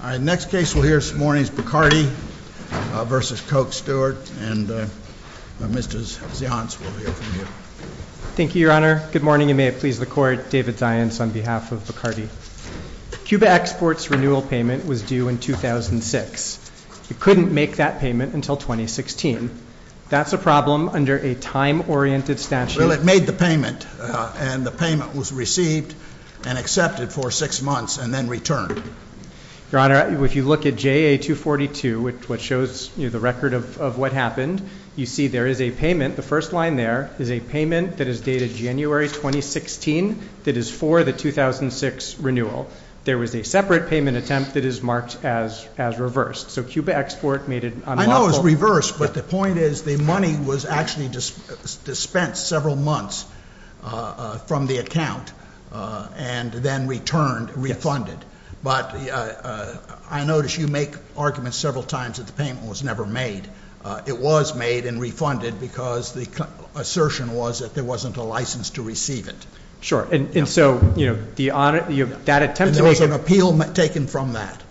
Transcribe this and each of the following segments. Bacardi v. Coke Stewart Cuba Exports' renewal payment was due in 2006. It couldn't make that payment until 2016. That's a problem under a time-oriented statute. Well, it made the payment, and the payment was received and accepted for six months and then returned. Your Honor, if you look at JA-242, which shows the record of what happened, you see there is a payment. The first line there is a payment that is dated January 2016 that is for the 2006 renewal. There was a separate payment attempt that is marked as reversed. So Cuba Export made it unlawful. I know it was reversed, but the point is the money was actually dispensed several months from the account and then returned, refunded. But I notice you make arguments several times that the payment was never made. It was made and refunded because the assertion was that there wasn't a license to receive it. Sure. And so that attempt to make it— And there was an appeal taken from that.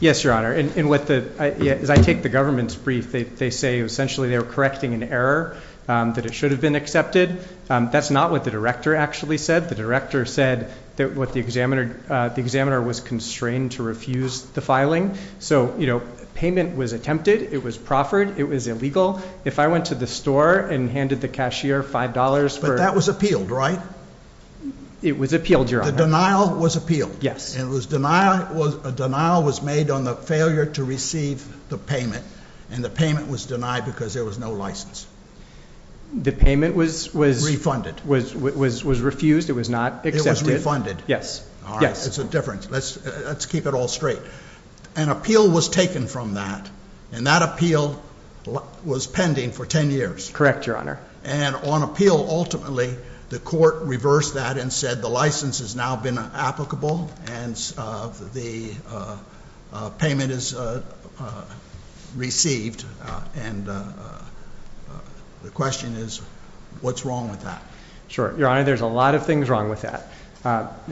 Yes, Your Honor. As I take the government's brief, they say essentially they were correcting an error that it should have been accepted. That's not what the director actually said. The director said that the examiner was constrained to refuse the filing. So payment was attempted. It was proffered. It was illegal. If I went to the store and handed the cashier $5 for— But that was appealed, right? It was appealed, Your Honor. The denial was appealed. Yes. And a denial was made on the failure to receive the payment, and the payment was denied because there was no license. The payment was— Refunded. —was refused. It was not accepted. It was refunded. Yes. Yes. All right. It's a difference. Let's keep it all straight. An appeal was taken from that, and that appeal was pending for 10 years. Correct, Your Honor. And on appeal, ultimately, the court reversed that and said the license has now been applicable, and the payment is received. And the question is, what's wrong with that? Sure. Your Honor, there's a lot of things wrong with that.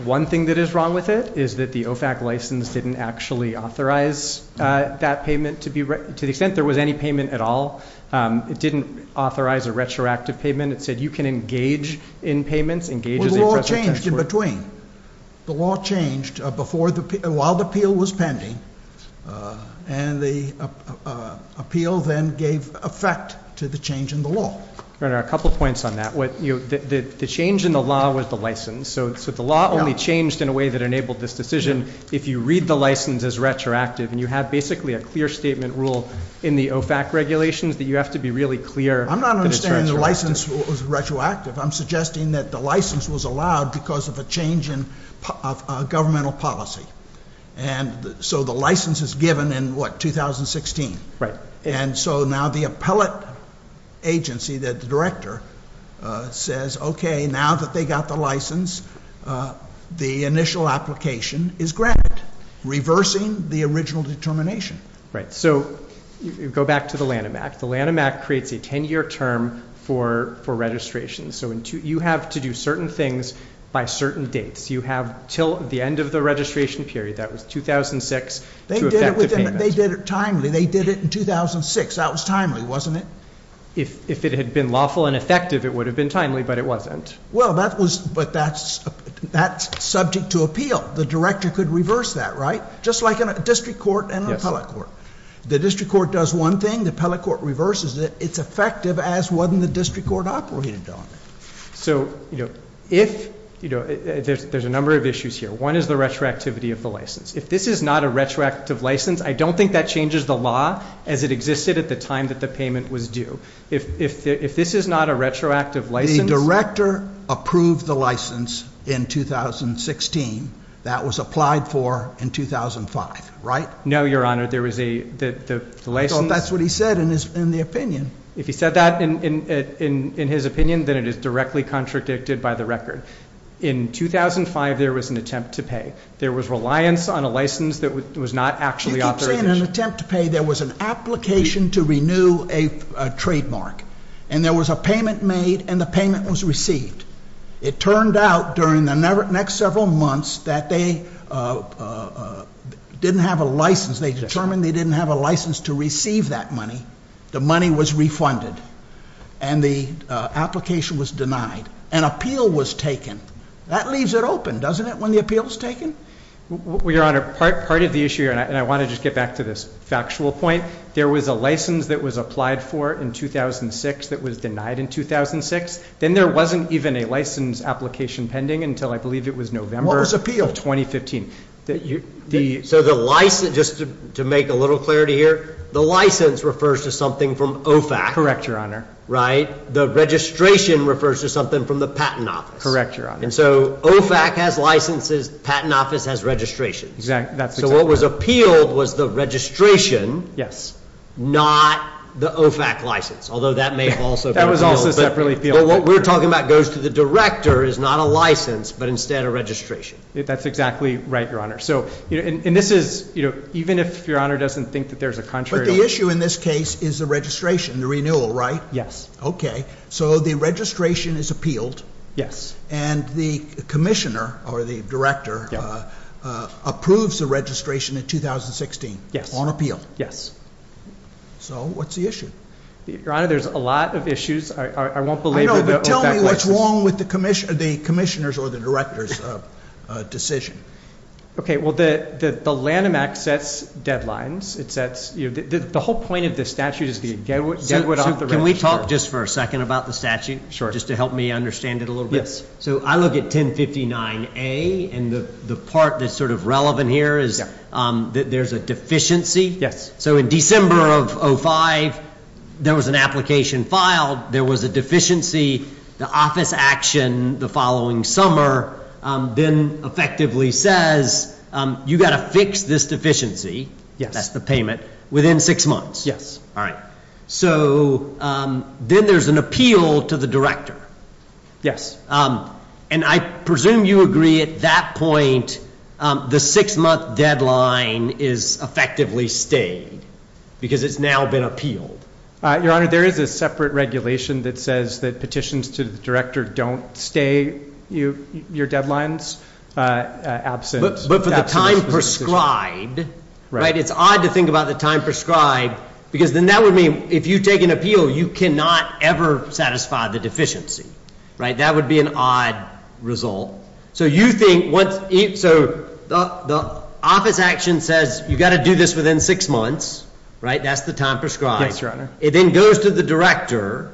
One thing that is wrong with it is that the OFAC license didn't actually authorize that payment to the extent there was any payment at all. It didn't authorize a retroactive payment. It said you can engage in payments— Well, the law changed in between. The law changed while the appeal was pending, and the appeal then gave effect to the change in the law. Your Honor, a couple points on that. The change in the law was the license. So the law only changed in a way that enabled this decision if you read the license as retroactive, and you have basically a clear statement rule in the OFAC regulations that you have to be really clear that it's retroactive. I'm not understanding the license was retroactive. I'm suggesting that the license was allowed because of a change in governmental policy. And so the license is given in, what, 2016? Right. And so now the appellate agency, the director, says, okay, now that they got the license, the initial application is granted, reversing the original determination. Right. So you go back to the Lanham Act. The Lanham Act creates a 10-year term for registration. So you have to do certain things by certain dates. You have until the end of the registration period, that was 2006, to effect the payment. They did it timely. They did it in 2006. That was timely, wasn't it? If it had been lawful and effective, it would have been timely, but it wasn't. Well, but that's subject to appeal. The director could reverse that, right? Just like a district court and an appellate court. Yes. The district court does one thing. The appellate court reverses it. It's effective as when the district court operated on it. So, you know, there's a number of issues here. One is the retroactivity of the license. If this is not a retroactive license, I don't think that changes the law as it existed at the time that the payment was due. If this is not a retroactive license. The director approved the license in 2016. That was applied for in 2005, right? No, Your Honor. There was a license. I thought that's what he said in the opinion. If he said that in his opinion, then it is directly contradicted by the record. In 2005, there was an attempt to pay. There was reliance on a license that was not actually authorized. You keep saying an attempt to pay. There was an application to renew a trademark. And there was a payment made and the payment was received. It turned out during the next several months that they didn't have a license. They determined they didn't have a license to receive that money. The money was refunded. And the application was denied. An appeal was taken. That leaves it open, doesn't it, when the appeal is taken? Well, Your Honor, part of the issue here, and I want to just get back to this factual point, there was a license that was applied for in 2006 that was denied in 2006. Then there wasn't even a license application pending until I believe it was November of 2015. What was appealed? So the license, just to make a little clarity here, the license refers to something from OFAC. Correct, Your Honor. Right. The registration refers to something from the Patent Office. Correct, Your Honor. And so OFAC has licenses, Patent Office has registrations. Exactly. That's exactly right. So what was appealed was the registration. Yes. Not the OFAC license, although that may have also been appealed. That was also separately appealed. But what we're talking about goes to the director is not a license, but instead a registration. That's exactly right, Your Honor. And this is, even if Your Honor doesn't think that there's a contrary. But the issue in this case is the registration, the renewal, right? Yes. Okay. So the registration is appealed. Yes. And the commissioner or the director approves the registration in 2016. Yes. On appeal. Yes. So what's the issue? Your Honor, there's a lot of issues. I won't belabor the OFAC license. I know, but tell me what's wrong with the commissioner's or the director's decision. Okay. Well, the Lanham Act sets deadlines. It sets, you know, the whole point of this statute is to get it off the register. Can we talk just for a second about the statute? Sure. Just to help me understand it a little bit. So I look at 1059A, and the part that's sort of relevant here is that there's a deficiency. Yes. So in December of 2005, there was an application filed. There was a deficiency. The office action the following summer then effectively says you've got to fix this deficiency. Yes. That's the payment. Within six months. Yes. All right. So then there's an appeal to the director. And I presume you agree at that point the six-month deadline is effectively stayed because it's now been appealed. Your Honor, there is a separate regulation that says that petitions to the director don't stay your deadlines absent this decision. But for the time prescribed, right? If you take an appeal, you cannot ever satisfy the deficiency. Right? That would be an odd result. So you think once — so the office action says you've got to do this within six months. Right? That's the time prescribed. It then goes to the director,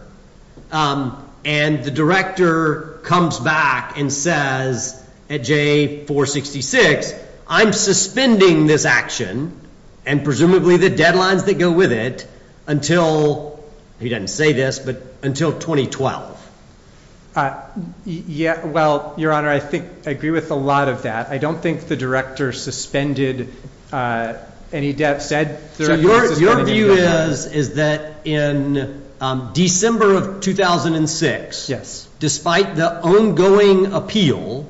and the director comes back and says at J466, I'm suspending this action and presumably the deadlines that go with it until — he doesn't say this, but until 2012. Yeah. Well, Your Honor, I think I agree with a lot of that. I don't think the director suspended any — said the director suspended any deadlines. Your view is that in December of 2006 —— despite the ongoing appeal,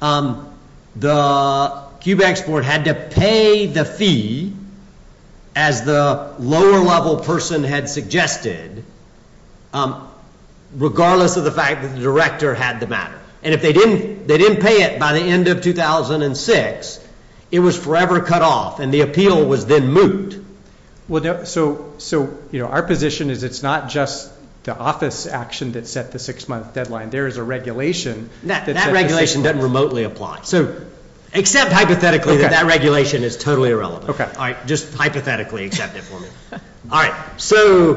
the QBEX board had to pay the fee as the lower-level person had suggested, regardless of the fact that the director had the matter. And if they didn't pay it by the end of 2006, it was forever cut off, and the appeal was then moot. So, you know, our position is it's not just the office action that set the six-month deadline. There is a regulation — That regulation doesn't remotely apply. So accept hypothetically that that regulation is totally irrelevant. All right. Just hypothetically accept it for me. All right. So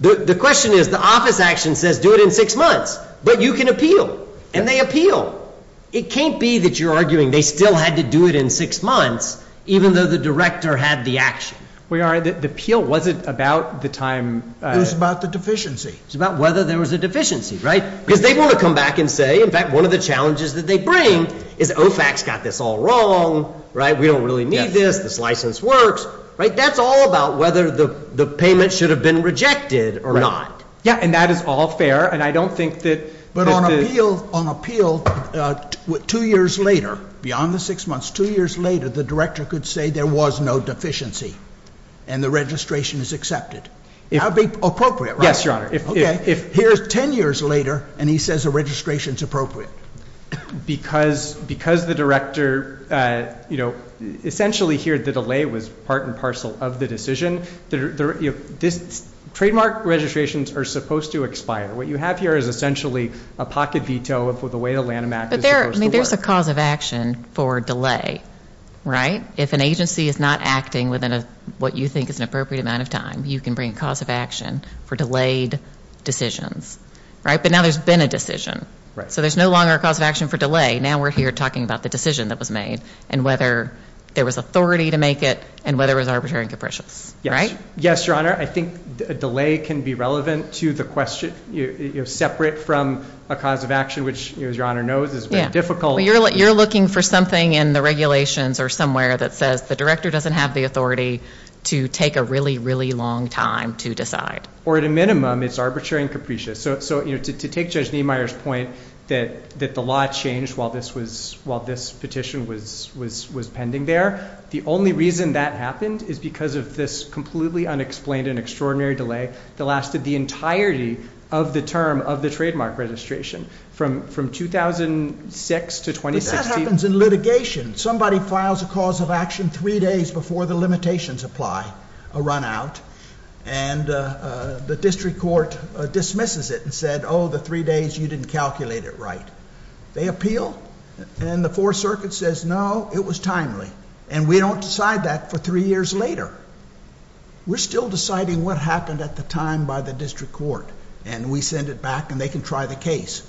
the question is the office action says do it in six months, but you can appeal, and they appeal. It can't be that you're arguing they still had to do it in six months even though the director had the action. Well, Your Honor, the appeal wasn't about the time — It was about the deficiency. It was about whether there was a deficiency, right, because they want to come back and say, in fact, one of the challenges that they bring is OFAC's got this all wrong, right? We don't really need this. This license works, right? That's all about whether the payment should have been rejected or not. Yeah, and that is all fair, and I don't think that — But on appeal, two years later, beyond the six months, two years later, the director could say there was no deficiency, and the registration is accepted. That would be appropriate, right? Yes, Your Honor. Okay. Here's 10 years later, and he says the registration's appropriate. Because the director, you know, essentially here the delay was part and parcel of the decision, trademark registrations are supposed to expire. What you have here is essentially a pocket veto of the way the Lanham Act is supposed to work. But there's a cause of action for delay, right? If an agency is not acting within what you think is an appropriate amount of time, you can bring a cause of action for delayed decisions, right? But now there's been a decision. Right. So there's no longer a cause of action for delay. Now we're here talking about the decision that was made and whether there was authority to make it and whether it was arbitrary and capricious. Yes. Yes, Your Honor. I think a delay can be relevant to the question, you know, separate from a cause of action, which, as Your Honor knows, is very difficult. Yeah. You're looking for something in the regulations or somewhere that says the director doesn't have the authority to take a really, really long time to decide. Or at a minimum, it's arbitrary and capricious. So, you know, to take Judge Niemeyer's point that the law changed while this petition was pending there, the only reason that happened is because of this completely unexplained and extraordinary delay that lasted the entirety of the term of the trademark registration from 2006 to 2016. But that happens in litigation. Somebody files a cause of action three days before the limitations apply, a run-out, and the district court dismisses it and said, oh, the three days, you didn't calculate it right. They appeal, and the Fourth Circuit says, no, it was timely. And we don't decide that for three years later. We're still deciding what happened at the time by the district court, and we send it back, and they can try the case,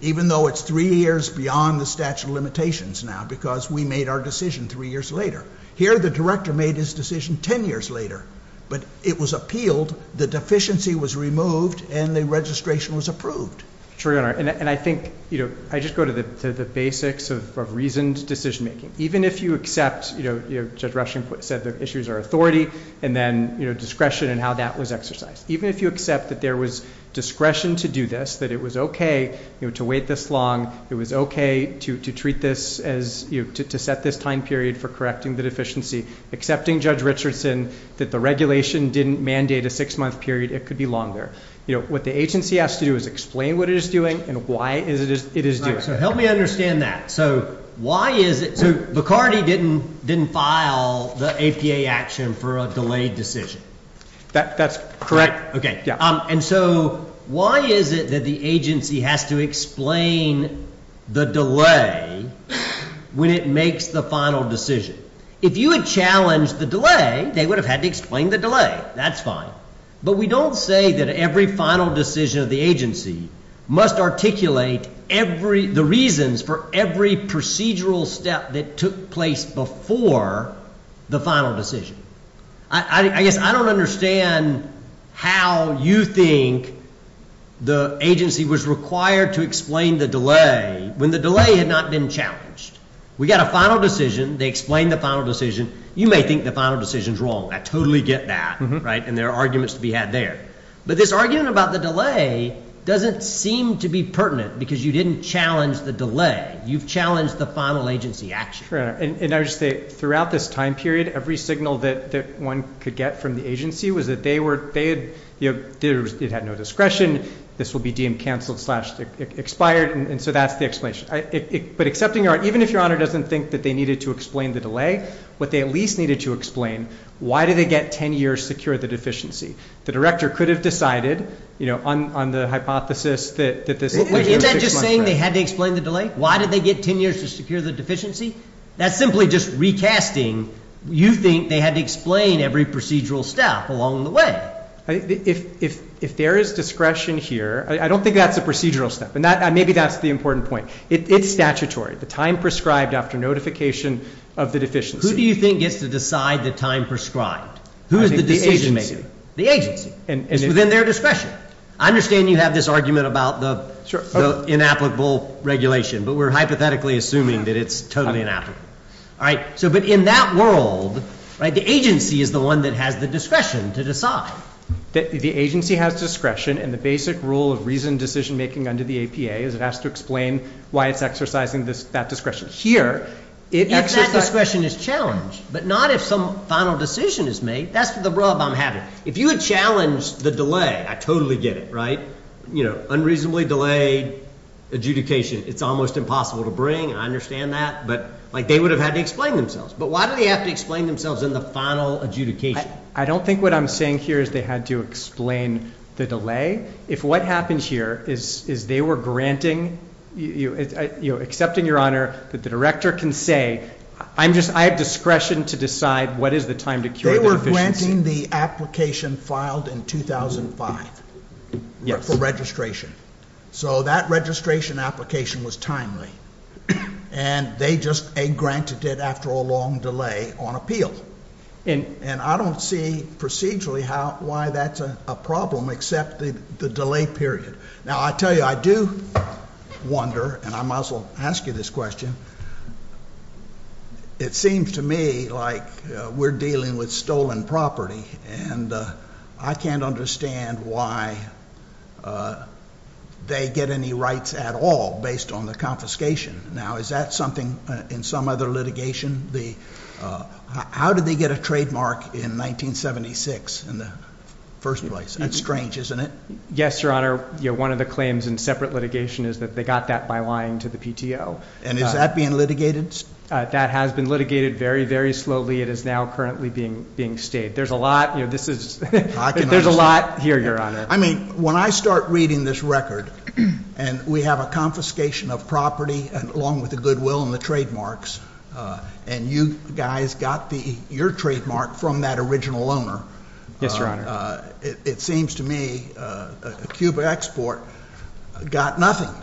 even though it's three years beyond the statute of limitations now because we made our decision three years later. Here, the director made his decision ten years later, but it was appealed, the deficiency was removed, and the registration was approved. Your Honor, and I think, you know, I just go to the basics of reasoned decision-making. Even if you accept, you know, Judge Rushing said the issues are authority, and then, you know, discretion and how that was exercised. Even if you accept that there was discretion to do this, that it was okay, you know, to wait this long, it was okay to treat this as, you know, to set this time period for correcting the deficiency, accepting Judge Richardson that the regulation didn't mandate a six-month period, it could be longer. You know, what the agency has to do is explain what it is doing and why it is due. All right. So help me understand that. So why is it so Bacardi didn't file the APA action for a delayed decision? That's correct. And so why is it that the agency has to explain the delay when it makes the final decision? If you had challenged the delay, they would have had to explain the delay. That's fine. But we don't say that every final decision of the agency must articulate the reasons for every procedural step that took place before the final decision. I guess I don't understand how you think the agency was required to explain the delay when the delay had not been challenged. We got a final decision. They explained the final decision. You may think the final decision is wrong. I totally get that, right? And there are arguments to be had there. But this argument about the delay doesn't seem to be pertinent because you didn't challenge the delay. You've challenged the final agency action. And I would say throughout this time period, every signal that one could get from the agency was that they had no discretion. This will be deemed canceled, slash, expired. And so that's the explanation. But accepting your honor, even if your honor doesn't think that they needed to explain the delay, what they at least needed to explain, why did they get 10 years to secure the deficiency? The director could have decided, you know, on the hypothesis that this. Is that just saying they had to explain the delay? Why did they get 10 years to secure the deficiency? That's simply just recasting. You think they had to explain every procedural step along the way. If there is discretion here, I don't think that's a procedural step. And maybe that's the important point. It's statutory. The time prescribed after notification of the deficiency. Who do you think gets to decide the time prescribed? Who is the decision maker? The agency. It's within their discretion. I understand you have this argument about the inapplicable regulation, but we're hypothetically assuming that it's totally inapplicable. All right. So but in that world, the agency is the one that has the discretion to decide. The agency has discretion. And the basic rule of reasoned decision making under the APA is it has to explain why it's exercising that discretion. Here, if that discretion is challenged, but not if some final decision is made, that's the rub I'm having. If you had challenged the delay, I totally get it, right? You know, unreasonably delayed adjudication. It's almost impossible to bring. I understand that. But, like, they would have had to explain themselves. But why do they have to explain themselves in the final adjudication? I don't think what I'm saying here is they had to explain the delay. If what happens here is they were granting, you know, accepting your honor that the director can say, I have discretion to decide what is the time to cure the deficiency. They were granting the application filed in 2005 for registration. So that registration application was timely. And they just granted it after a long delay on appeal. And I don't see procedurally why that's a problem except the delay period. Now, I tell you, I do wonder, and I might as well ask you this question. It seems to me like we're dealing with stolen property. And I can't understand why they get any rights at all based on the confiscation. Now, is that something in some other litigation? How did they get a trademark in 1976 in the first place? That's strange, isn't it? Yes, your honor. One of the claims in separate litigation is that they got that by lying to the PTO. And is that being litigated? That has been litigated very, very slowly. It is now currently being stayed. There's a lot here, your honor. I mean, when I start reading this record, and we have a confiscation of property along with the goodwill and the trademarks, and you guys got your trademark from that original owner. Yes, your honor. It seems to me Cuba Export got nothing.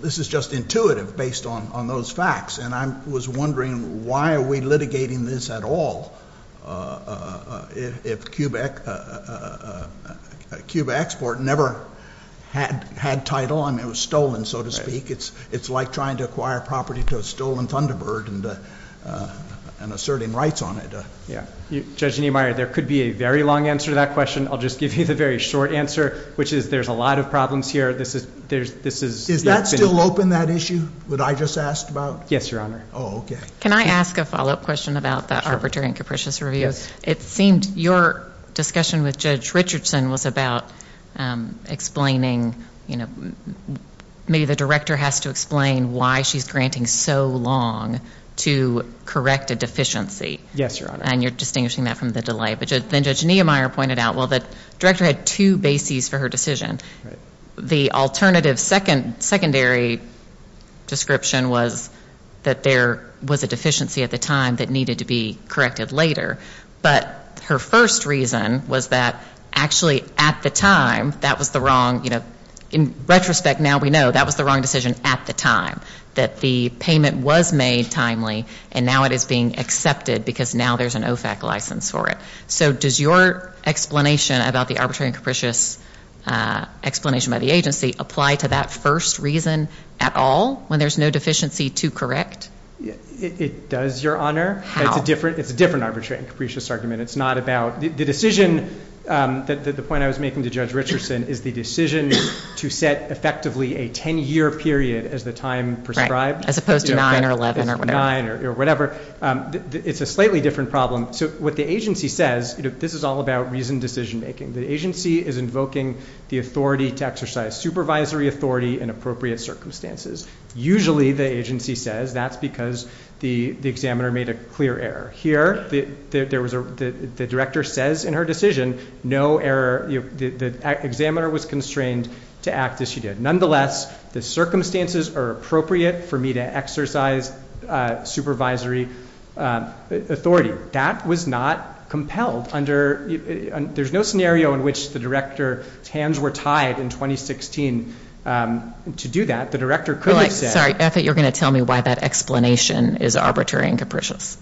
This is just intuitive based on those facts. And I was wondering why are we litigating this at all if Cuba Export never had title. I mean, it was stolen, so to speak. It's like trying to acquire property to a stolen Thunderbird and asserting rights on it. Judge Niemeyer, there could be a very long answer to that question. I'll just give you the very short answer, which is there's a lot of problems here. Is that still open, that issue that I just asked about? Yes, your honor. Oh, okay. Can I ask a follow-up question about the Arbitrary and Capricious Review? It seemed your discussion with Judge Richardson was about explaining, you know, maybe the director has to explain why she's granting so long to correct a deficiency. Yes, your honor. And you're distinguishing that from the delay. But then Judge Niemeyer pointed out, well, the director had two bases for her decision. The alternative secondary description was that there was a deficiency at the time that needed to be corrected later. But her first reason was that actually at the time that was the wrong, you know, in retrospect now we know that was the wrong decision at the time, that the payment was made timely, and now it is being accepted because now there's an OFAC license for it. So does your explanation about the arbitrary and capricious explanation by the agency apply to that first reason at all when there's no deficiency to correct? It does, your honor. How? It's a different arbitrary and capricious argument. The decision, the point I was making to Judge Richardson is the decision to set effectively a 10-year period as the time prescribed. Right, as opposed to 9 or 11 or whatever. 9 or whatever. It's a slightly different problem. So what the agency says, you know, this is all about reasoned decision making. The agency is invoking the authority to exercise supervisory authority in appropriate circumstances. Usually, the agency says that's because the examiner made a clear error. Here, the director says in her decision no error, the examiner was constrained to act as she did. Nonetheless, the circumstances are appropriate for me to exercise supervisory authority. That was not compelled under, there's no scenario in which the director's hands were tied in 2016 to do that. The director could have said. I'm sorry, I thought you were going to tell me why that explanation is arbitrary and capricious.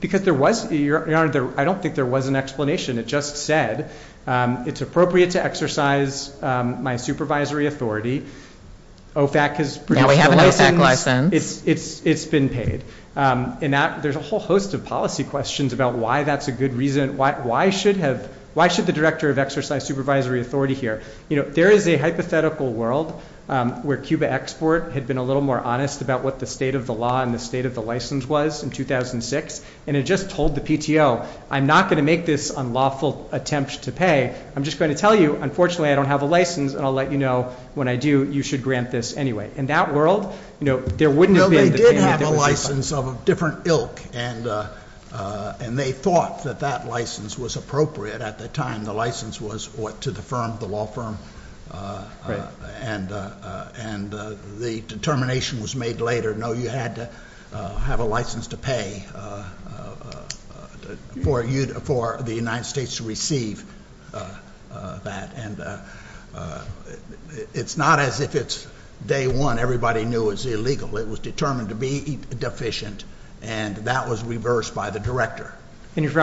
Because there was, your honor, I don't think there was an explanation. It just said it's appropriate to exercise my supervisory authority. OFAC has produced a license. Now we have an OFAC license. It's been paid. And there's a whole host of policy questions about why that's a good reason, why should the director of exercise supervisory authority here? You know, there is a hypothetical world where Cuba Export had been a little more honest about what the state of the law and the state of the license was in 2006. And it just told the PTO, I'm not going to make this unlawful attempt to pay. I'm just going to tell you, unfortunately, I don't have a license, and I'll let you know when I do, you should grant this anyway. In that world, you know, there wouldn't have been. They had a license of a different ilk, and they thought that that license was appropriate at the time. The license was to the firm, the law firm. And the determination was made later, no, you had to have a license to pay for the United States to receive that. And it's not as if it's day one, everybody knew it was illegal. It was determined to be deficient, and that was reversed by the director. And if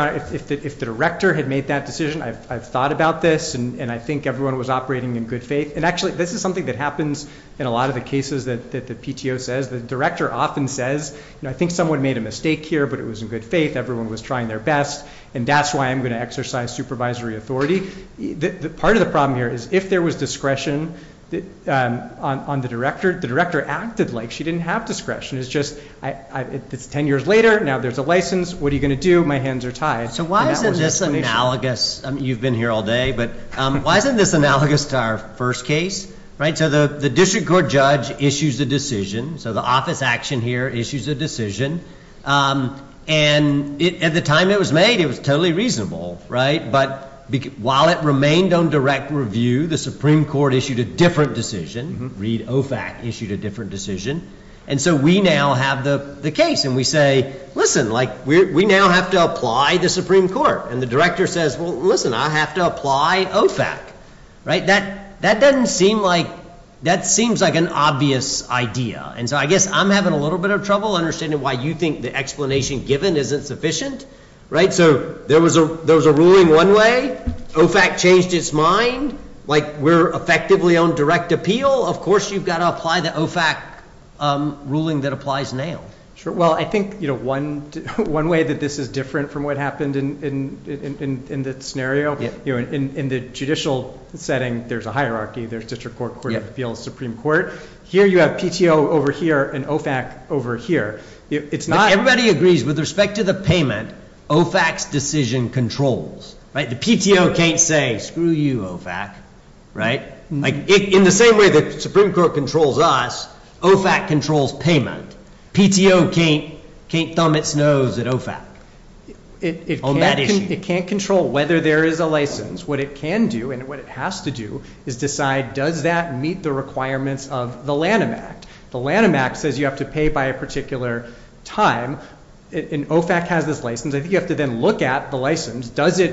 the director had made that decision, I've thought about this, and I think everyone was operating in good faith. And actually, this is something that happens in a lot of the cases that the PTO says. The director often says, you know, I think someone made a mistake here, but it was in good faith. Everyone was trying their best, and that's why I'm going to exercise supervisory authority. Part of the problem here is if there was discretion on the director, the director acted like she didn't have discretion. It's just 10 years later, now there's a license. What are you going to do? My hands are tied. So why isn't this analogous? You've been here all day, but why isn't this analogous to our first case? So the district court judge issues a decision, so the office action here issues a decision. And at the time it was made, it was totally reasonable, right? But while it remained on direct review, the Supreme Court issued a different decision. Reed OFAC issued a different decision. And so we now have the case, and we say, listen, like we now have to apply the Supreme Court. And the director says, well, listen, I have to apply OFAC, right? That doesn't seem like that seems like an obvious idea. And so I guess I'm having a little bit of trouble understanding why you think the explanation given isn't sufficient, right? So there was a ruling one way. OFAC changed its mind. Like we're effectively on direct appeal. Of course you've got to apply the OFAC ruling that applies now. Sure. Well, I think, you know, one way that this is different from what happened in the scenario. In the judicial setting, there's a hierarchy. There's district court, court of appeals, Supreme Court. Here you have PTO over here and OFAC over here. Everybody agrees with respect to the payment, OFAC's decision controls, right? The PTO can't say, screw you, OFAC, right? In the same way the Supreme Court controls us, OFAC controls payment. PTO can't thumb its nose at OFAC on that issue. It can't control whether there is a license. What it can do and what it has to do is decide does that meet the requirements of the Lanham Act. The Lanham Act says you have to pay by a particular time, and OFAC has this license. I think you have to then look at the license. Does it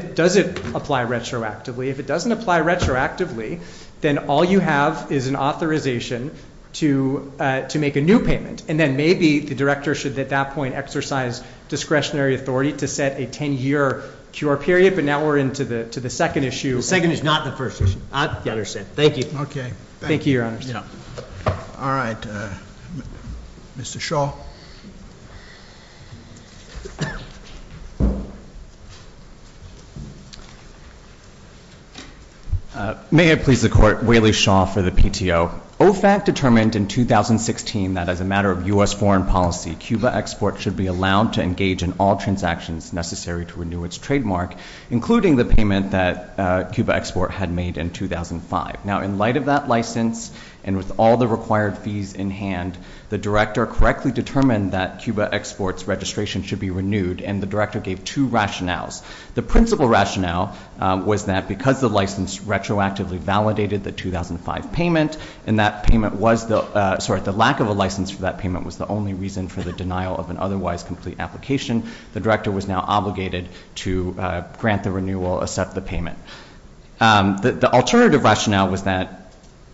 apply retroactively? If it doesn't apply retroactively, then all you have is an authorization to make a new payment. And then maybe the director should at that point exercise discretionary authority to set a 10-year cure period. But now we're into the second issue. The second is not the first issue. I understand. Thank you. Okay. Thank you, Your Honors. All right. Mr. Shaw. May it please the Court, Waley Shaw for the PTO. OFAC determined in 2016 that as a matter of U.S. foreign policy, Cuba export should be allowed to engage in all transactions necessary to renew its trademark, including the payment that Cuba export had made in 2005. Now, in light of that license and with all the required fees in hand, the director correctly determined that Cuba export's registration should be renewed, and the director gave two rationales. The principal rationale was that because the license retroactively validated the 2005 payment and the lack of a license for that payment was the only reason for the denial of an otherwise complete application, the director was now obligated to grant the renewal, accept the payment. The alternative rationale was that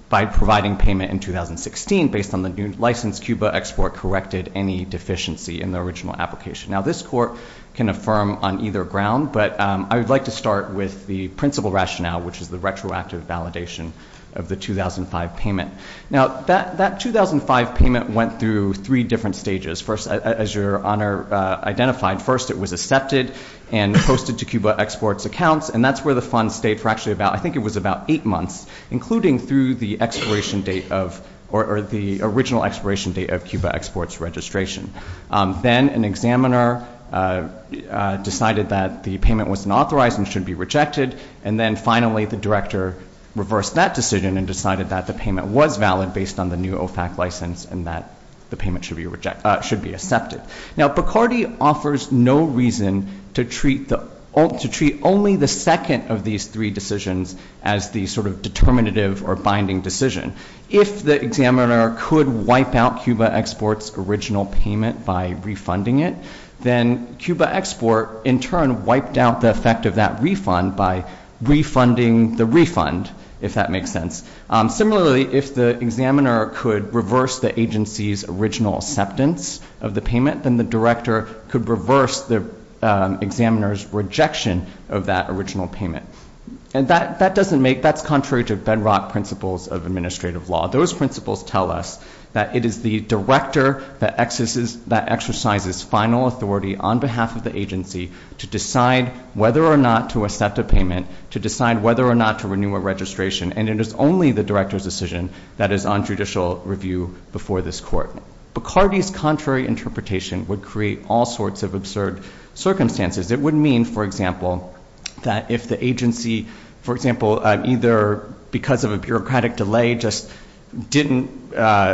by providing payment in 2016, based on the new license Cuba export corrected any deficiency in the original application. Now, this Court can affirm on either ground, but I would like to start with the principal rationale, which is the retroactive validation of the 2005 payment. Now, that 2005 payment went through three different stages. First, as Your Honor identified, first it was accepted and posted to Cuba export's accounts, and that's where the funds stayed for actually about, I think it was about eight months, including through the original expiration date of Cuba export's registration. Then an examiner decided that the payment wasn't authorized and should be rejected, and then finally the director reversed that decision and decided that the payment was valid based on the new OFAC license and that the payment should be accepted. Now, Bacardi offers no reason to treat only the second of these three decisions as the sort of determinative or binding decision. If the examiner could wipe out Cuba export's original payment by refunding it, then Cuba export in turn wiped out the effect of that refund by refunding the refund, if that makes sense. Similarly, if the examiner could reverse the agency's original acceptance of the payment, then the director could reverse the examiner's rejection of that original payment. And that doesn't make, that's contrary to bedrock principles of administrative law. Those principles tell us that it is the director that exercises final authority on behalf of the agency to decide whether or not to accept a payment, to decide whether or not to renew a registration, and it is only the director's decision that is on judicial review before this court. Bacardi's contrary interpretation would create all sorts of absurd circumstances. It would mean, for example, that if the agency, for example, either because of a bureaucratic delay just didn't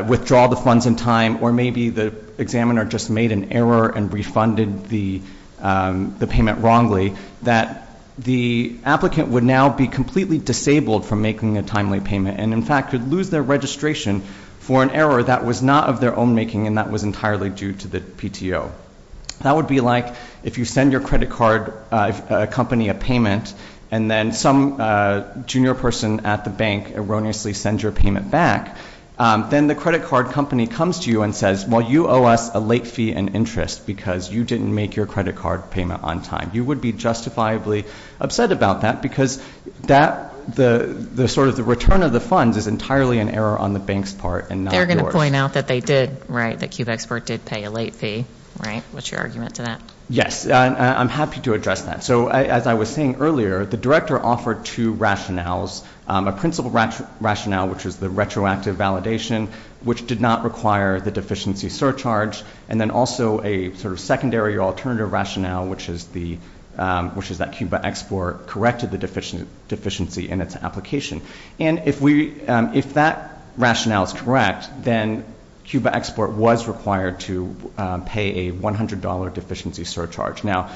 withdraw the funds in time or maybe the examiner just made an error and refunded the payment wrongly, that the applicant would now be completely disabled from making a timely payment and, in fact, could lose their registration for an error that was not of their own making and that was entirely due to the PTO. That would be like if you send your credit card company a payment and then some junior person at the bank erroneously sends your payment back, then the credit card company comes to you and says, well, you owe us a late fee and interest because you didn't make your credit card payment on time. You would be justifiably upset about that because that sort of the return of the funds is entirely an error on the bank's part and not yours. They're going to point out that they did, right, that Cubexport did pay a late fee, right? What's your argument to that? Yes. I'm happy to address that. So as I was saying earlier, the director offered two rationales, a principal rationale, which was the retroactive validation, which did not require the deficiency surcharge, and then also a sort of secondary alternative rationale, which is that Cubexport corrected the deficiency in its application. And if that rationale is correct, then Cubexport was required to pay a $100 deficiency surcharge. Now,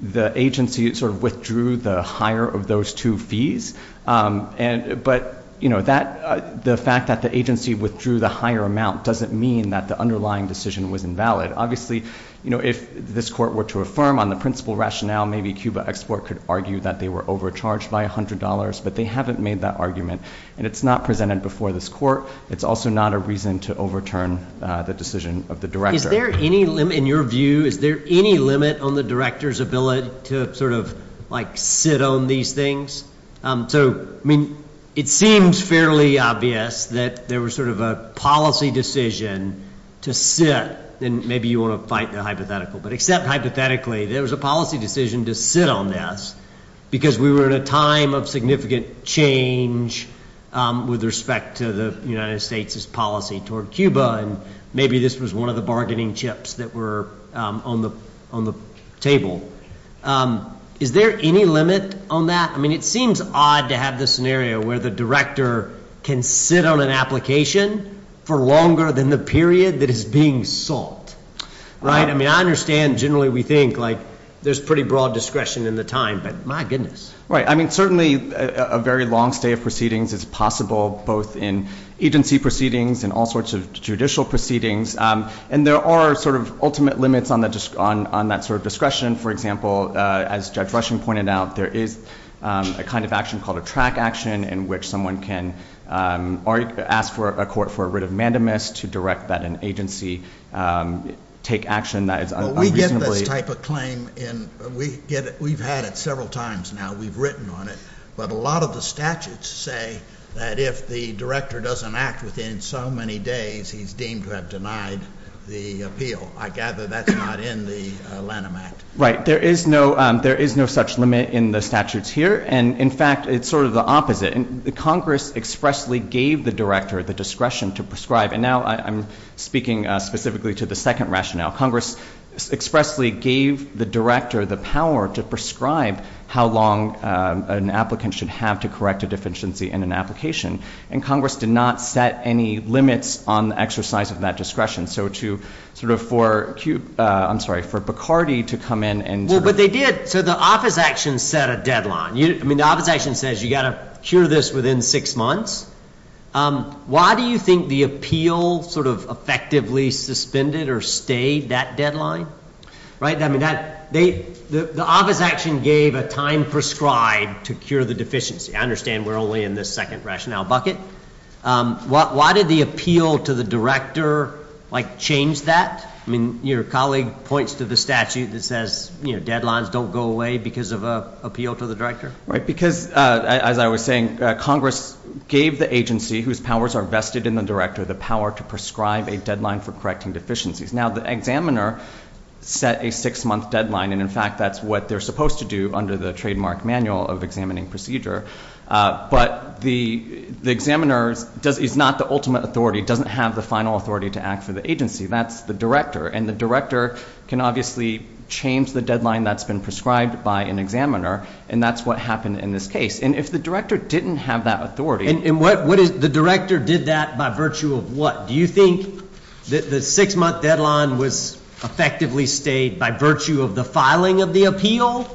the agency sort of withdrew the higher of those two fees, but the fact that the agency withdrew the higher amount doesn't mean that the underlying decision was invalid. Obviously, you know, if this court were to affirm on the principal rationale, maybe Cubexport could argue that they were overcharged by $100, but they haven't made that argument, and it's not presented before this court. It's also not a reason to overturn the decision of the director. Is there any limit in your view? Is there any limit on the director's ability to sort of like sit on these things? So, I mean, it seems fairly obvious that there was sort of a policy decision to sit, and maybe you want to fight the hypothetical, but except hypothetically, there was a policy decision to sit on this because we were in a time of significant change with respect to the United States' policy toward Cuba, and maybe this was one of the bargaining chips that were on the table. Is there any limit on that? I mean, it seems odd to have this scenario where the director can sit on an application for longer than the period that is being solved, right? I mean, I understand generally we think, like, there's pretty broad discretion in the time, but my goodness. Right. I mean, certainly a very long stay of proceedings is possible both in agency proceedings and all sorts of judicial proceedings, and there are sort of ultimate limits on that sort of discretion. For example, as Judge Rushing pointed out, there is a kind of action called a track action in which someone can ask for a court for a writ of mandamus to direct that an agency take action that is unreasonably. Well, we get this type of claim. We've had it several times now. We've written on it. But a lot of the statutes say that if the director doesn't act within so many days, he's deemed to have denied the appeal. I gather that's not in the Lanham Act. Right. There is no such limit in the statutes here, and, in fact, it's sort of the opposite. Congress expressly gave the director the discretion to prescribe, and now I'm speaking specifically to the second rationale. Congress expressly gave the director the power to prescribe how long an applicant should have to correct a deficiency in an application, and Congress did not set any limits on the exercise of that discretion. So to sort of for Bacardi to come in and- Well, but they did. So the office action set a deadline. I mean, the office action says you've got to cure this within six months. Why do you think the appeal sort of effectively suspended or stayed that deadline? I mean, the office action gave a time prescribed to cure the deficiency. I understand we're only in this second rationale bucket. Why did the appeal to the director, like, change that? I mean, your colleague points to the statute that says, you know, deadlines don't go away because of an appeal to the director. Right, because, as I was saying, Congress gave the agency whose powers are vested in the director the power to prescribe a deadline for correcting deficiencies. Now, the examiner set a six-month deadline, and, in fact, that's what they're supposed to do under the trademark manual of examining procedure. But the examiner is not the ultimate authority, doesn't have the final authority to act for the agency. That's the director. And the director can obviously change the deadline that's been prescribed by an examiner, and that's what happened in this case. And if the director didn't have that authority- And the director did that by virtue of what? Do you think that the six-month deadline was effectively stayed by virtue of the filing of the appeal,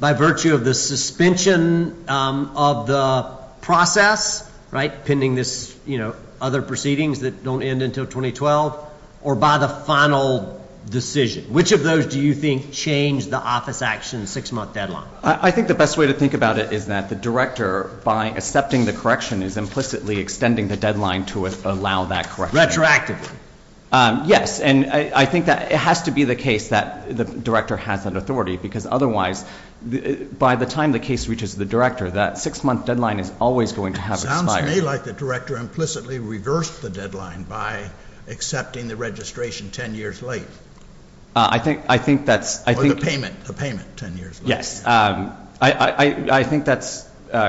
by virtue of the suspension of the process, right, pending this, you know, other proceedings that don't end until 2012, or by the final decision? Which of those do you think changed the office action six-month deadline? I think the best way to think about it is that the director, by accepting the correction, is implicitly extending the deadline to allow that correction. Retroactively. Yes. And I think that it has to be the case that the director has that authority, because otherwise, by the time the case reaches the director, that six-month deadline is always going to have expired. Sounds to me like the director implicitly reversed the deadline by accepting the registration 10 years late. I think that's- Or the payment, the payment 10 years late. Yes. I think that's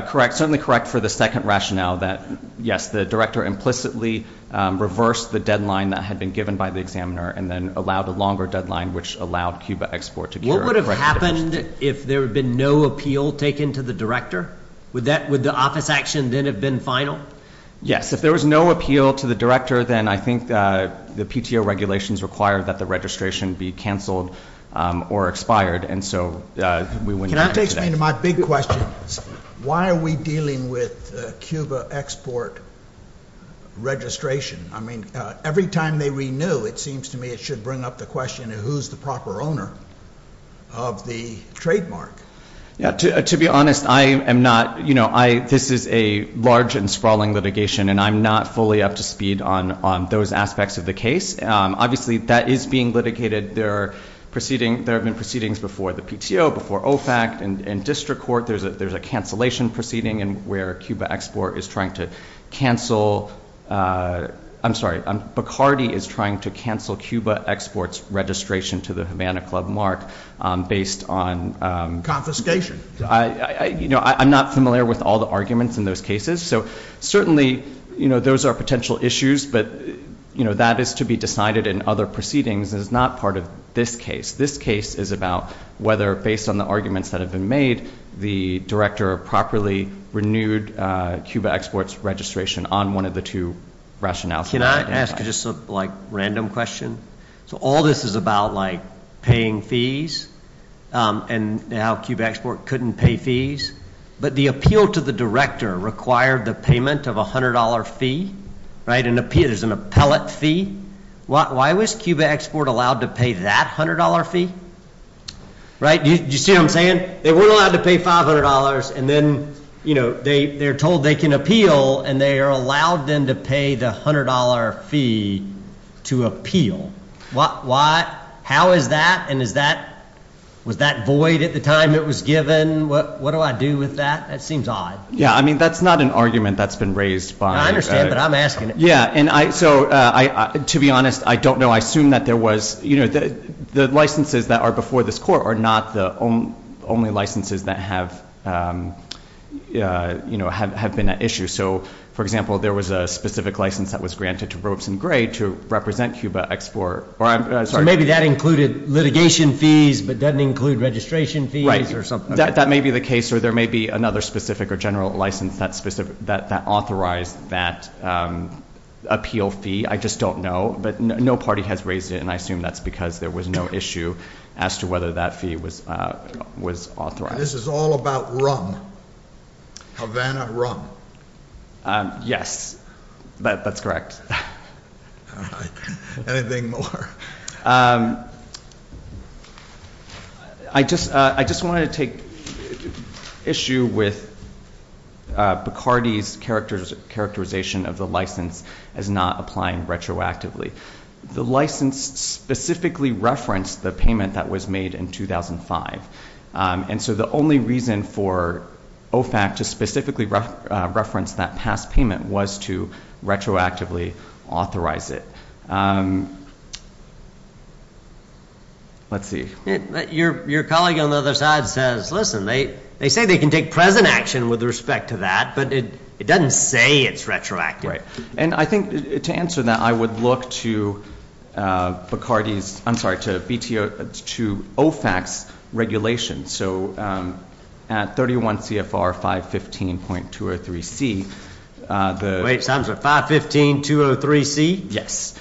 correct, certainly correct for the second rationale that, yes, the director implicitly reversed the deadline that had been given by the examiner and then allowed a longer deadline, which allowed Cuba Export to cure- What would have happened if there had been no appeal taken to the director? Would that-would the office action then have been final? Yes. If there was no appeal to the director, then I think the PTO regulations require that the registration be canceled or expired, and so we wouldn't- That takes me to my big question. Why are we dealing with Cuba Export registration? I mean, every time they renew, it seems to me it should bring up the question of who's the proper owner of the trademark. To be honest, I am not-this is a large and sprawling litigation, and I'm not fully up to speed on those aspects of the case. Obviously, that is being litigated. There are proceedings-there have been proceedings before the PTO, before OFAC, and district court. There's a cancellation proceeding where Cuba Export is trying to cancel-I'm sorry. Bacardi is trying to cancel Cuba Export's registration to the Havana Club mark based on- Confiscation. I'm not familiar with all the arguments in those cases, so certainly those are potential issues, but that is to be decided in other proceedings. It is not part of this case. This case is about whether, based on the arguments that have been made, the director properly renewed Cuba Export's registration on one of the two rationales. Can I ask just a random question? So all this is about paying fees, and now Cuba Export couldn't pay fees, but the appeal to the director required the payment of a $100 fee, right? There's an appellate fee. Why was Cuba Export allowed to pay that $100 fee? Right? Do you see what I'm saying? They weren't allowed to pay $500, and then, you know, they're told they can appeal, and they are allowed then to pay the $100 fee to appeal. How is that, and is that-was that void at the time it was given? What do I do with that? That seems odd. Yeah, I mean, that's not an argument that's been raised by- I understand, but I'm asking. Yeah, and I-so to be honest, I don't know. I assume that there was-you know, the licenses that are before this court are not the only licenses that have, you know, have been at issue. So, for example, there was a specific license that was granted to Robeson Gray to represent Cuba Export. So maybe that included litigation fees but didn't include registration fees or something. That may be the case, or there may be another specific or general license that authorized that appeal fee. I just don't know. But no party has raised it, and I assume that's because there was no issue as to whether that fee was authorized. This is all about rum. Havana rum. Yes, that's correct. All right. Anything more? I just wanted to take issue with Bacardi's characterization of the license as not applying retroactively. The license specifically referenced the payment that was made in 2005, and so the only reason for OFAC to specifically reference that past payment was to retroactively authorize it. Let's see. Your colleague on the other side says, listen, they say they can take present action with respect to that, but it doesn't say it's retroactive. Right. And I think to answer that, I would look to Bacardi's, I'm sorry, to OFAC's regulation. So at 31 CFR 515.203C, the – Wait, 515.203C? Yes.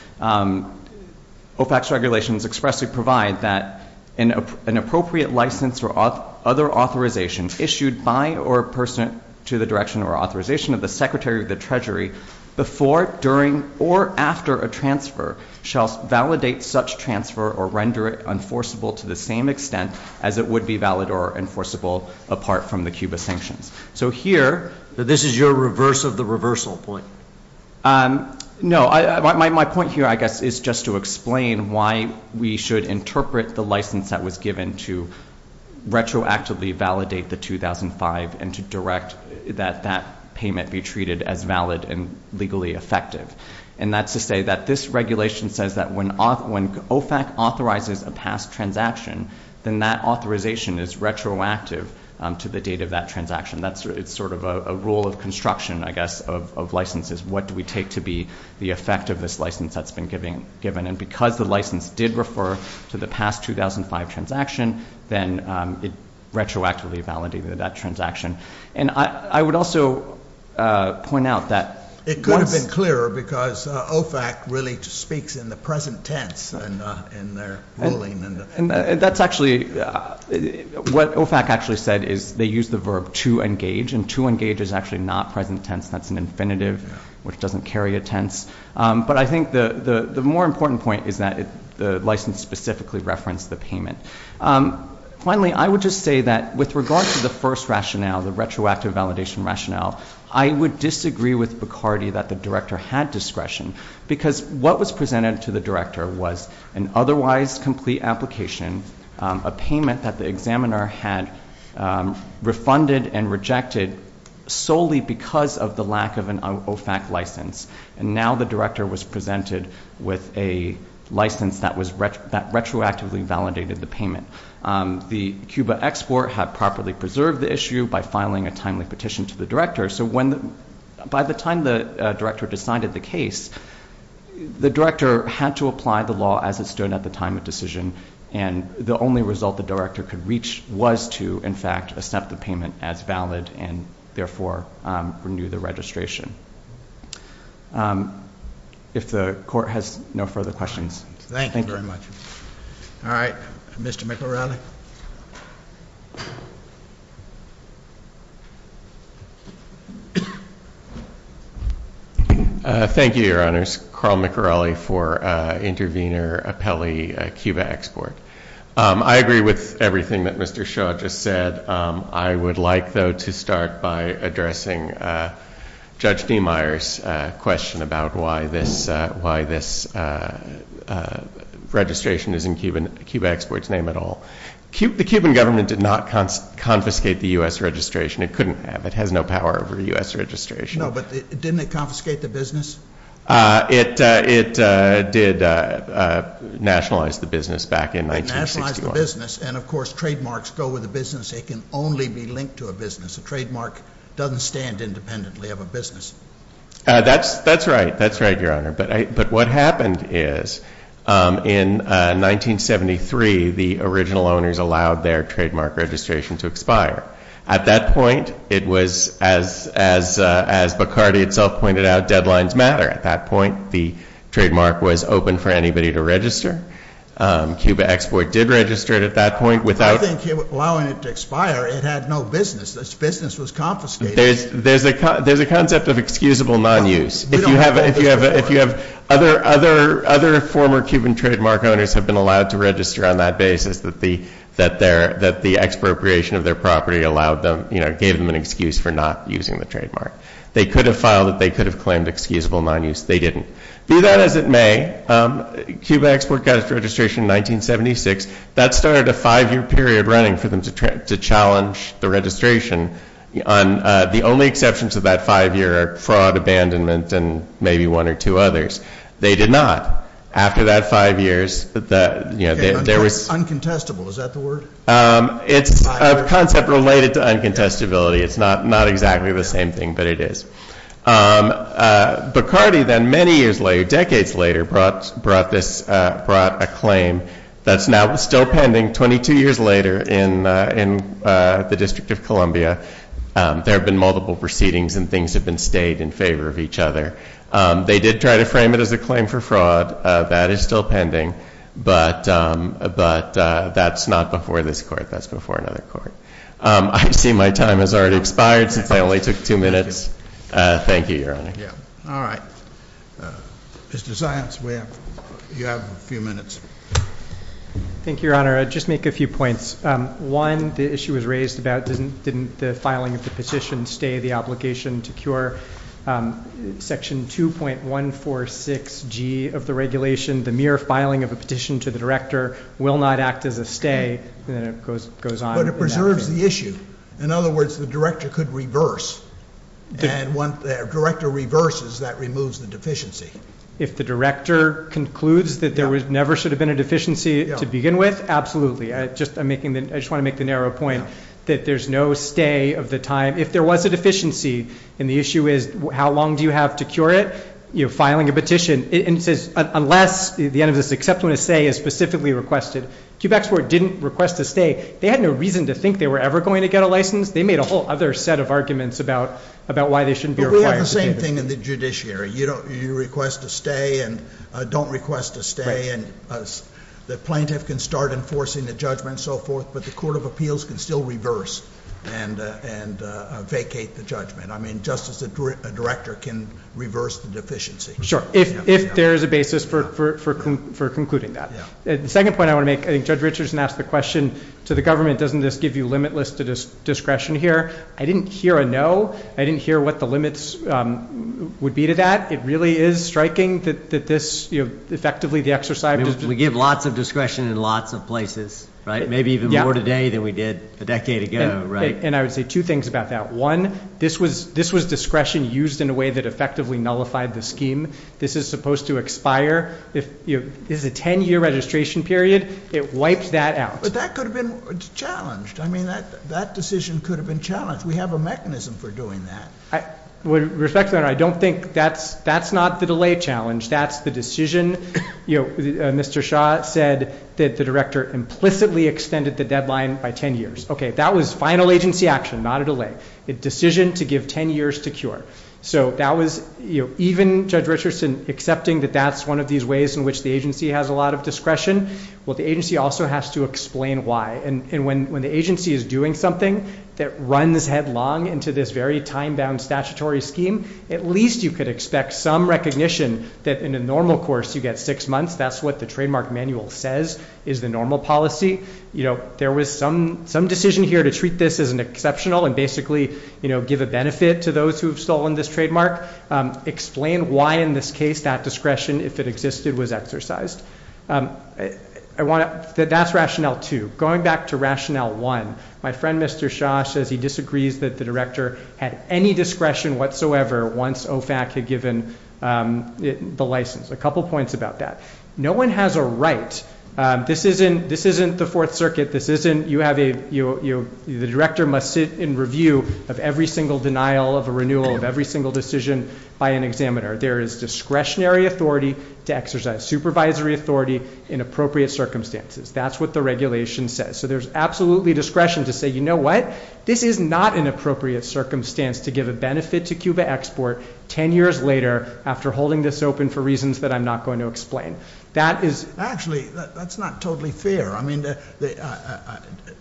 OFAC's regulations expressly provide that an appropriate license or other authorization issued by or pursuant to the direction or authorization of the Secretary of the Treasury before, during, or after a transfer shall validate such transfer or render it enforceable to the same extent as it would be valid or enforceable apart from the Cuba sanctions. So here, this is your reverse of the reversal point. No. My point here, I guess, is just to explain why we should interpret the license that was given to retroactively validate the 2005 and to direct that that payment be treated as valid and legally effective. And that's to say that this regulation says that when OFAC authorizes a past transaction, then that authorization is retroactive to the date of that transaction. It's sort of a rule of construction, I guess, of licenses. What do we take to be the effect of this license that's been given? And because the license did refer to the past 2005 transaction, then it retroactively validated that transaction. And I would also point out that once— It could have been clearer because OFAC really speaks in the present tense in their ruling. What OFAC actually said is they use the verb to engage, and to engage is actually not present tense. That's an infinitive, which doesn't carry a tense. But I think the more important point is that the license specifically referenced the payment. Finally, I would just say that with regard to the first rationale, the retroactive validation rationale, I would disagree with Bacardi that the director had discretion because what was presented to the director was an otherwise complete application, a payment that the examiner had refunded and rejected solely because of the lack of an OFAC license. And now the director was presented with a license that retroactively validated the payment. The CUBA export had properly preserved the issue by filing a timely petition to the director. So by the time the director decided the case, the director had to apply the law as it stood at the time of decision, and the only result the director could reach was to, in fact, accept the payment as valid and, therefore, renew the registration. If the court has no further questions. Thank you very much. All right. Mr. McElrowley. Thank you, Your Honors. Carl McElrowley for intervenor appellee CUBA export. I agree with everything that Mr. Shaw just said. I would like, though, to start by addressing Judge D. Myers' question about why this registration is in CUBA export's name at all. The Cuban government did not confiscate the U.S. registration. It couldn't have. It has no power over U.S. registration. No, but didn't it confiscate the business? It did nationalize the business back in 1961. It nationalized the business. And, of course, trademarks go with a business. They can only be linked to a business. A trademark doesn't stand independently of a business. That's right. That's right, Your Honor. But what happened is, in 1973, the original owners allowed their trademark registration to expire. At that point, it was, as Bacardi itself pointed out, deadlines matter. At that point, the trademark was open for anybody to register. CUBA export did register it at that point. I think allowing it to expire, it had no business. The business was confiscated. There's a concept of excusable non-use. If you have other former Cuban trademark owners have been allowed to register on that basis that the expropriation of their property allowed them, gave them an excuse for not using the trademark. They could have filed it. They could have claimed excusable non-use. They didn't. Be that as it may, CUBA export got its registration in 1976. That started a five-year period running for them to challenge the registration. The only exceptions to that five-year are fraud, abandonment, and maybe one or two others. They did not. After that five years, there was— Uncontestable, is that the word? It's a concept related to uncontestability. It's not exactly the same thing, but it is. Bacardi then, many years later, decades later, brought a claim that's now still pending. Twenty-two years later in the District of Columbia, there have been multiple proceedings and things have been stayed in favor of each other. They did try to frame it as a claim for fraud. That is still pending, but that's not before this court. That's before another court. I see my time has already expired since I only took two minutes. Thank you, Your Honor. All right. Mr. Zients, you have a few minutes. Thank you, Your Honor. I'll just make a few points. One, the issue was raised about didn't the filing of the petition stay the obligation to cure Section 2.146G of the regulation? The mere filing of a petition to the director will not act as a stay. Then it goes on. But it preserves the issue. In other words, the director could reverse. And when the director reverses, that removes the deficiency. If the director concludes that there never should have been a deficiency to begin with, absolutely. I just want to make the narrow point that there's no stay of the time. If there was a deficiency and the issue is how long do you have to cure it, you're filing a petition. And it says unless the end of this, except when a stay is specifically requested. QBAC's court didn't request a stay. They had no reason to think they were ever going to get a license. They made a whole other set of arguments about why they shouldn't be required. We have the same thing in the judiciary. You request a stay and don't request a stay, and the plaintiff can start enforcing the judgment and so forth, but the court of appeals can still reverse and vacate the judgment. I mean, just as a director can reverse the deficiency. Sure, if there is a basis for concluding that. The second point I want to make, I think Judge Richardson asked the question to the government, doesn't this give you limitless discretion here? I didn't hear a no. I didn't hear what the limits would be to that. It really is striking that this effectively the exercise- We give lots of discretion in lots of places, right? Maybe even more today than we did a decade ago, right? And I would say two things about that. One, this was discretion used in a way that effectively nullified the scheme. This is supposed to expire. This is a ten-year registration period. It wipes that out. But that could have been challenged. I mean, that decision could have been challenged. We have a mechanism for doing that. With respect to that, I don't think that's not the delay challenge. That's the decision. Mr. Shaw said that the director implicitly extended the deadline by ten years. Okay, that was final agency action, not a delay. A decision to give ten years to cure. So that was, even Judge Richardson accepting that that's one of these ways in which the agency has a lot of discretion, well, the agency also has to explain why. And when the agency is doing something that runs headlong into this very time-bound statutory scheme, at least you could expect some recognition that in a normal course you get six months. That's what the trademark manual says is the normal policy. There was some decision here to treat this as an exceptional and basically give a benefit to those who have stolen this trademark. Explain why in this case that discretion, if it existed, was exercised. That's rationale two. Going back to rationale one, my friend Mr. Shaw says he disagrees that the director had any discretion whatsoever once OFAC had given the license. A couple points about that. No one has a right. This isn't the Fourth Circuit. The director must sit in review of every single denial of a renewal, of every single decision by an examiner. There is discretionary authority to exercise supervisory authority in appropriate circumstances. That's what the regulation says. So there's absolutely discretion to say, you know what, this is not an appropriate circumstance to give a benefit to Cuba Export 10 years later after holding this open for reasons that I'm not going to explain. Actually, that's not totally fair.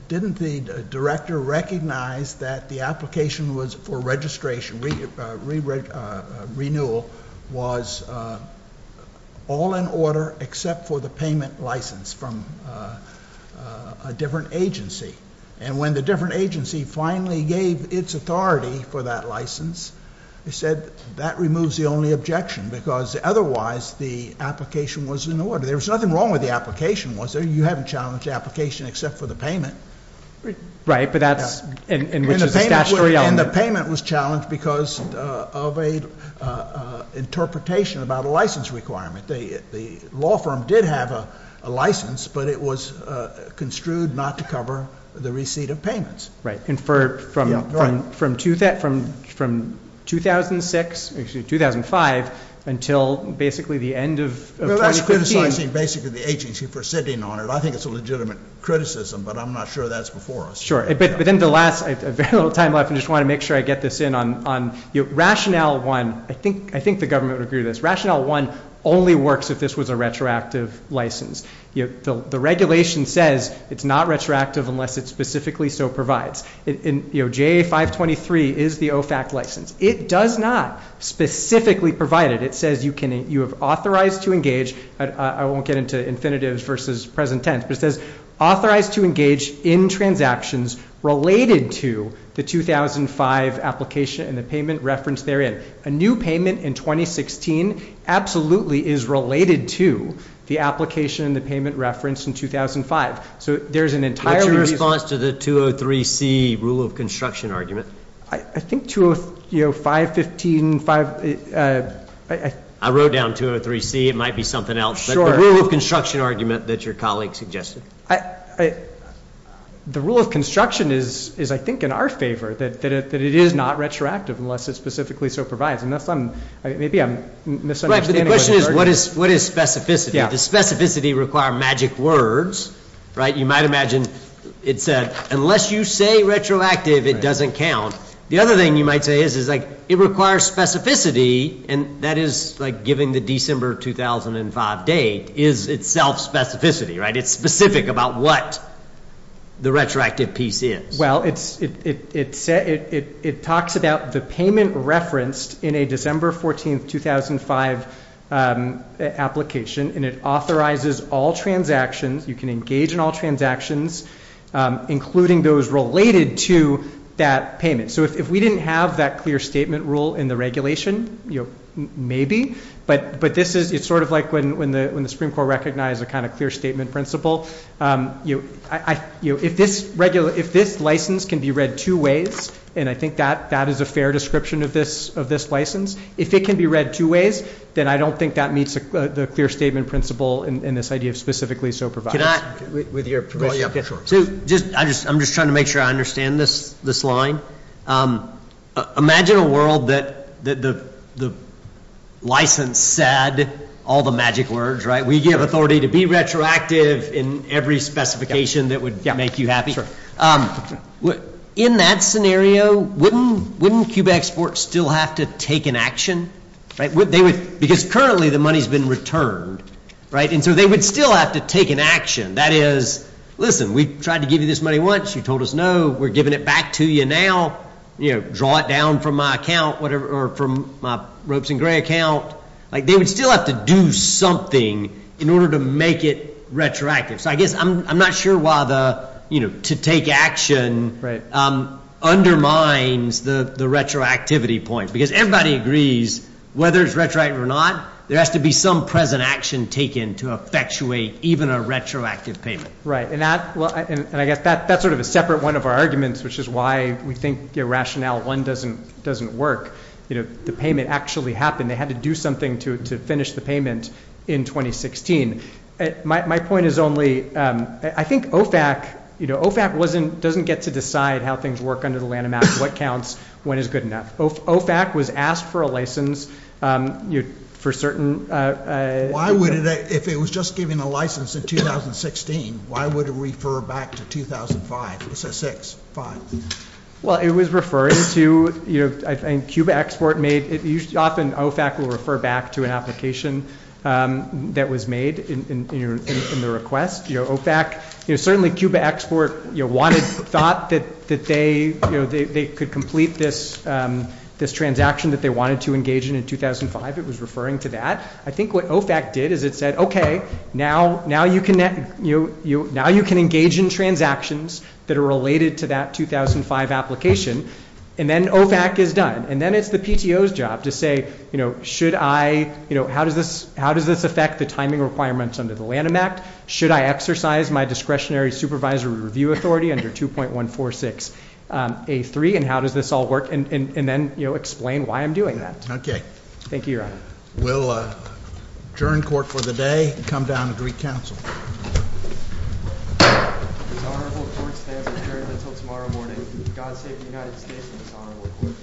Didn't the director recognize that the application was for registration, renewal, was all in order except for the payment license from a different agency? And when the different agency finally gave its authority for that license, he said that removes the only objection because otherwise the application was in order. There was nothing wrong with the application, was there? You haven't challenged the application except for the payment. Right, but that's in which there's a statutory element. And the payment was challenged because of an interpretation about a license requirement. The law firm did have a license, but it was construed not to cover the receipt of payments. Right, and from 2006, excuse me, 2005 until basically the end of 2015. Well, that's criticizing basically the agency for sitting on it. I think it's a legitimate criticism, but I'm not sure that's before us. Sure, but then the last, I have very little time left. I just want to make sure I get this in. Rationale 1, I think the government would agree with this. Rationale 1 only works if this was a retroactive license. The regulation says it's not retroactive unless it specifically so provides. JA 523 is the OFAC license. It does not specifically provide it. It says you have authorized to engage. I won't get into infinitives versus present tense. It says authorized to engage in transactions related to the 2005 application and the payment reference therein. A new payment in 2016 absolutely is related to the application and the payment reference in 2005. So there's an entire reason. What's your response to the 203C rule of construction argument? I think, you know, 515. I wrote down 203C. Maybe it might be something else, but the rule of construction argument that your colleague suggested. The rule of construction is, I think, in our favor, that it is not retroactive unless it specifically so provides. Maybe I'm misunderstanding. Right, but the question is, what is specificity? Does specificity require magic words? You might imagine it said, unless you say retroactive, it doesn't count. The other thing you might say is, like, it requires specificity, and that is, like, giving the December 2005 date is itself specificity, right? It's specific about what the retroactive piece is. Well, it talks about the payment referenced in a December 14, 2005 application, and it authorizes all transactions. You can engage in all transactions, including those related to that payment. So if we didn't have that clear statement rule in the regulation, maybe, but it's sort of like when the Supreme Court recognized a kind of clear statement principle. If this license can be read two ways, and I think that is a fair description of this license, if it can be read two ways, then I don't think that meets the clear statement principle in this idea of specifically so provides. Can I, with your permission? Sure. I'm just trying to make sure I understand this line. Imagine a world that the license said all the magic words, right? We give authority to be retroactive in every specification that would make you happy. In that scenario, wouldn't QBEXport still have to take an action? Because currently the money has been returned, right? And so they would still have to take an action. That is, listen, we tried to give you this money once. You told us no. We're giving it back to you now. Draw it down from my account or from my Ropes and Gray account. They would still have to do something in order to make it retroactive. So I guess I'm not sure why the, you know, to take action undermines the retroactivity point, because everybody agrees whether it's retroactive or not, there has to be some present action taken to effectuate even a retroactive payment. Right. And I guess that's sort of a separate one of our arguments, which is why we think your rationale one doesn't work. You know, the payment actually happened. They had to do something to finish the payment in 2016. My point is only, I think OFAC, you know, OFAC doesn't get to decide how things work under the Lanham Act, what counts, when is good enough. OFAC was asked for a license for certain. Why would it, if it was just given a license in 2016, why would it refer back to 2005? It's a six, five. Well, it was referring to, you know, I think QBEXport made, often OFAC will refer back to an application that was made in the request. You know, OFAC, you know, certainly QBEXport, you know, wanted, thought that they, you know, they could complete this transaction that they wanted to engage in in 2005. It was referring to that. I think what OFAC did is it said, okay, now you can engage in transactions that are related to that 2005 application, and then OFAC is done. And then it's the PTO's job to say, you know, should I, you know, how does this affect the timing requirements under the Lanham Act? Should I exercise my discretionary supervisory review authority under 2.146A3? And how does this all work? And then, you know, explain why I'm doing that. Okay. Thank you, Your Honor. We'll adjourn court for the day and come down to Greek Council. This honorable court stands adjourned until tomorrow morning. God save the United States and this honorable court.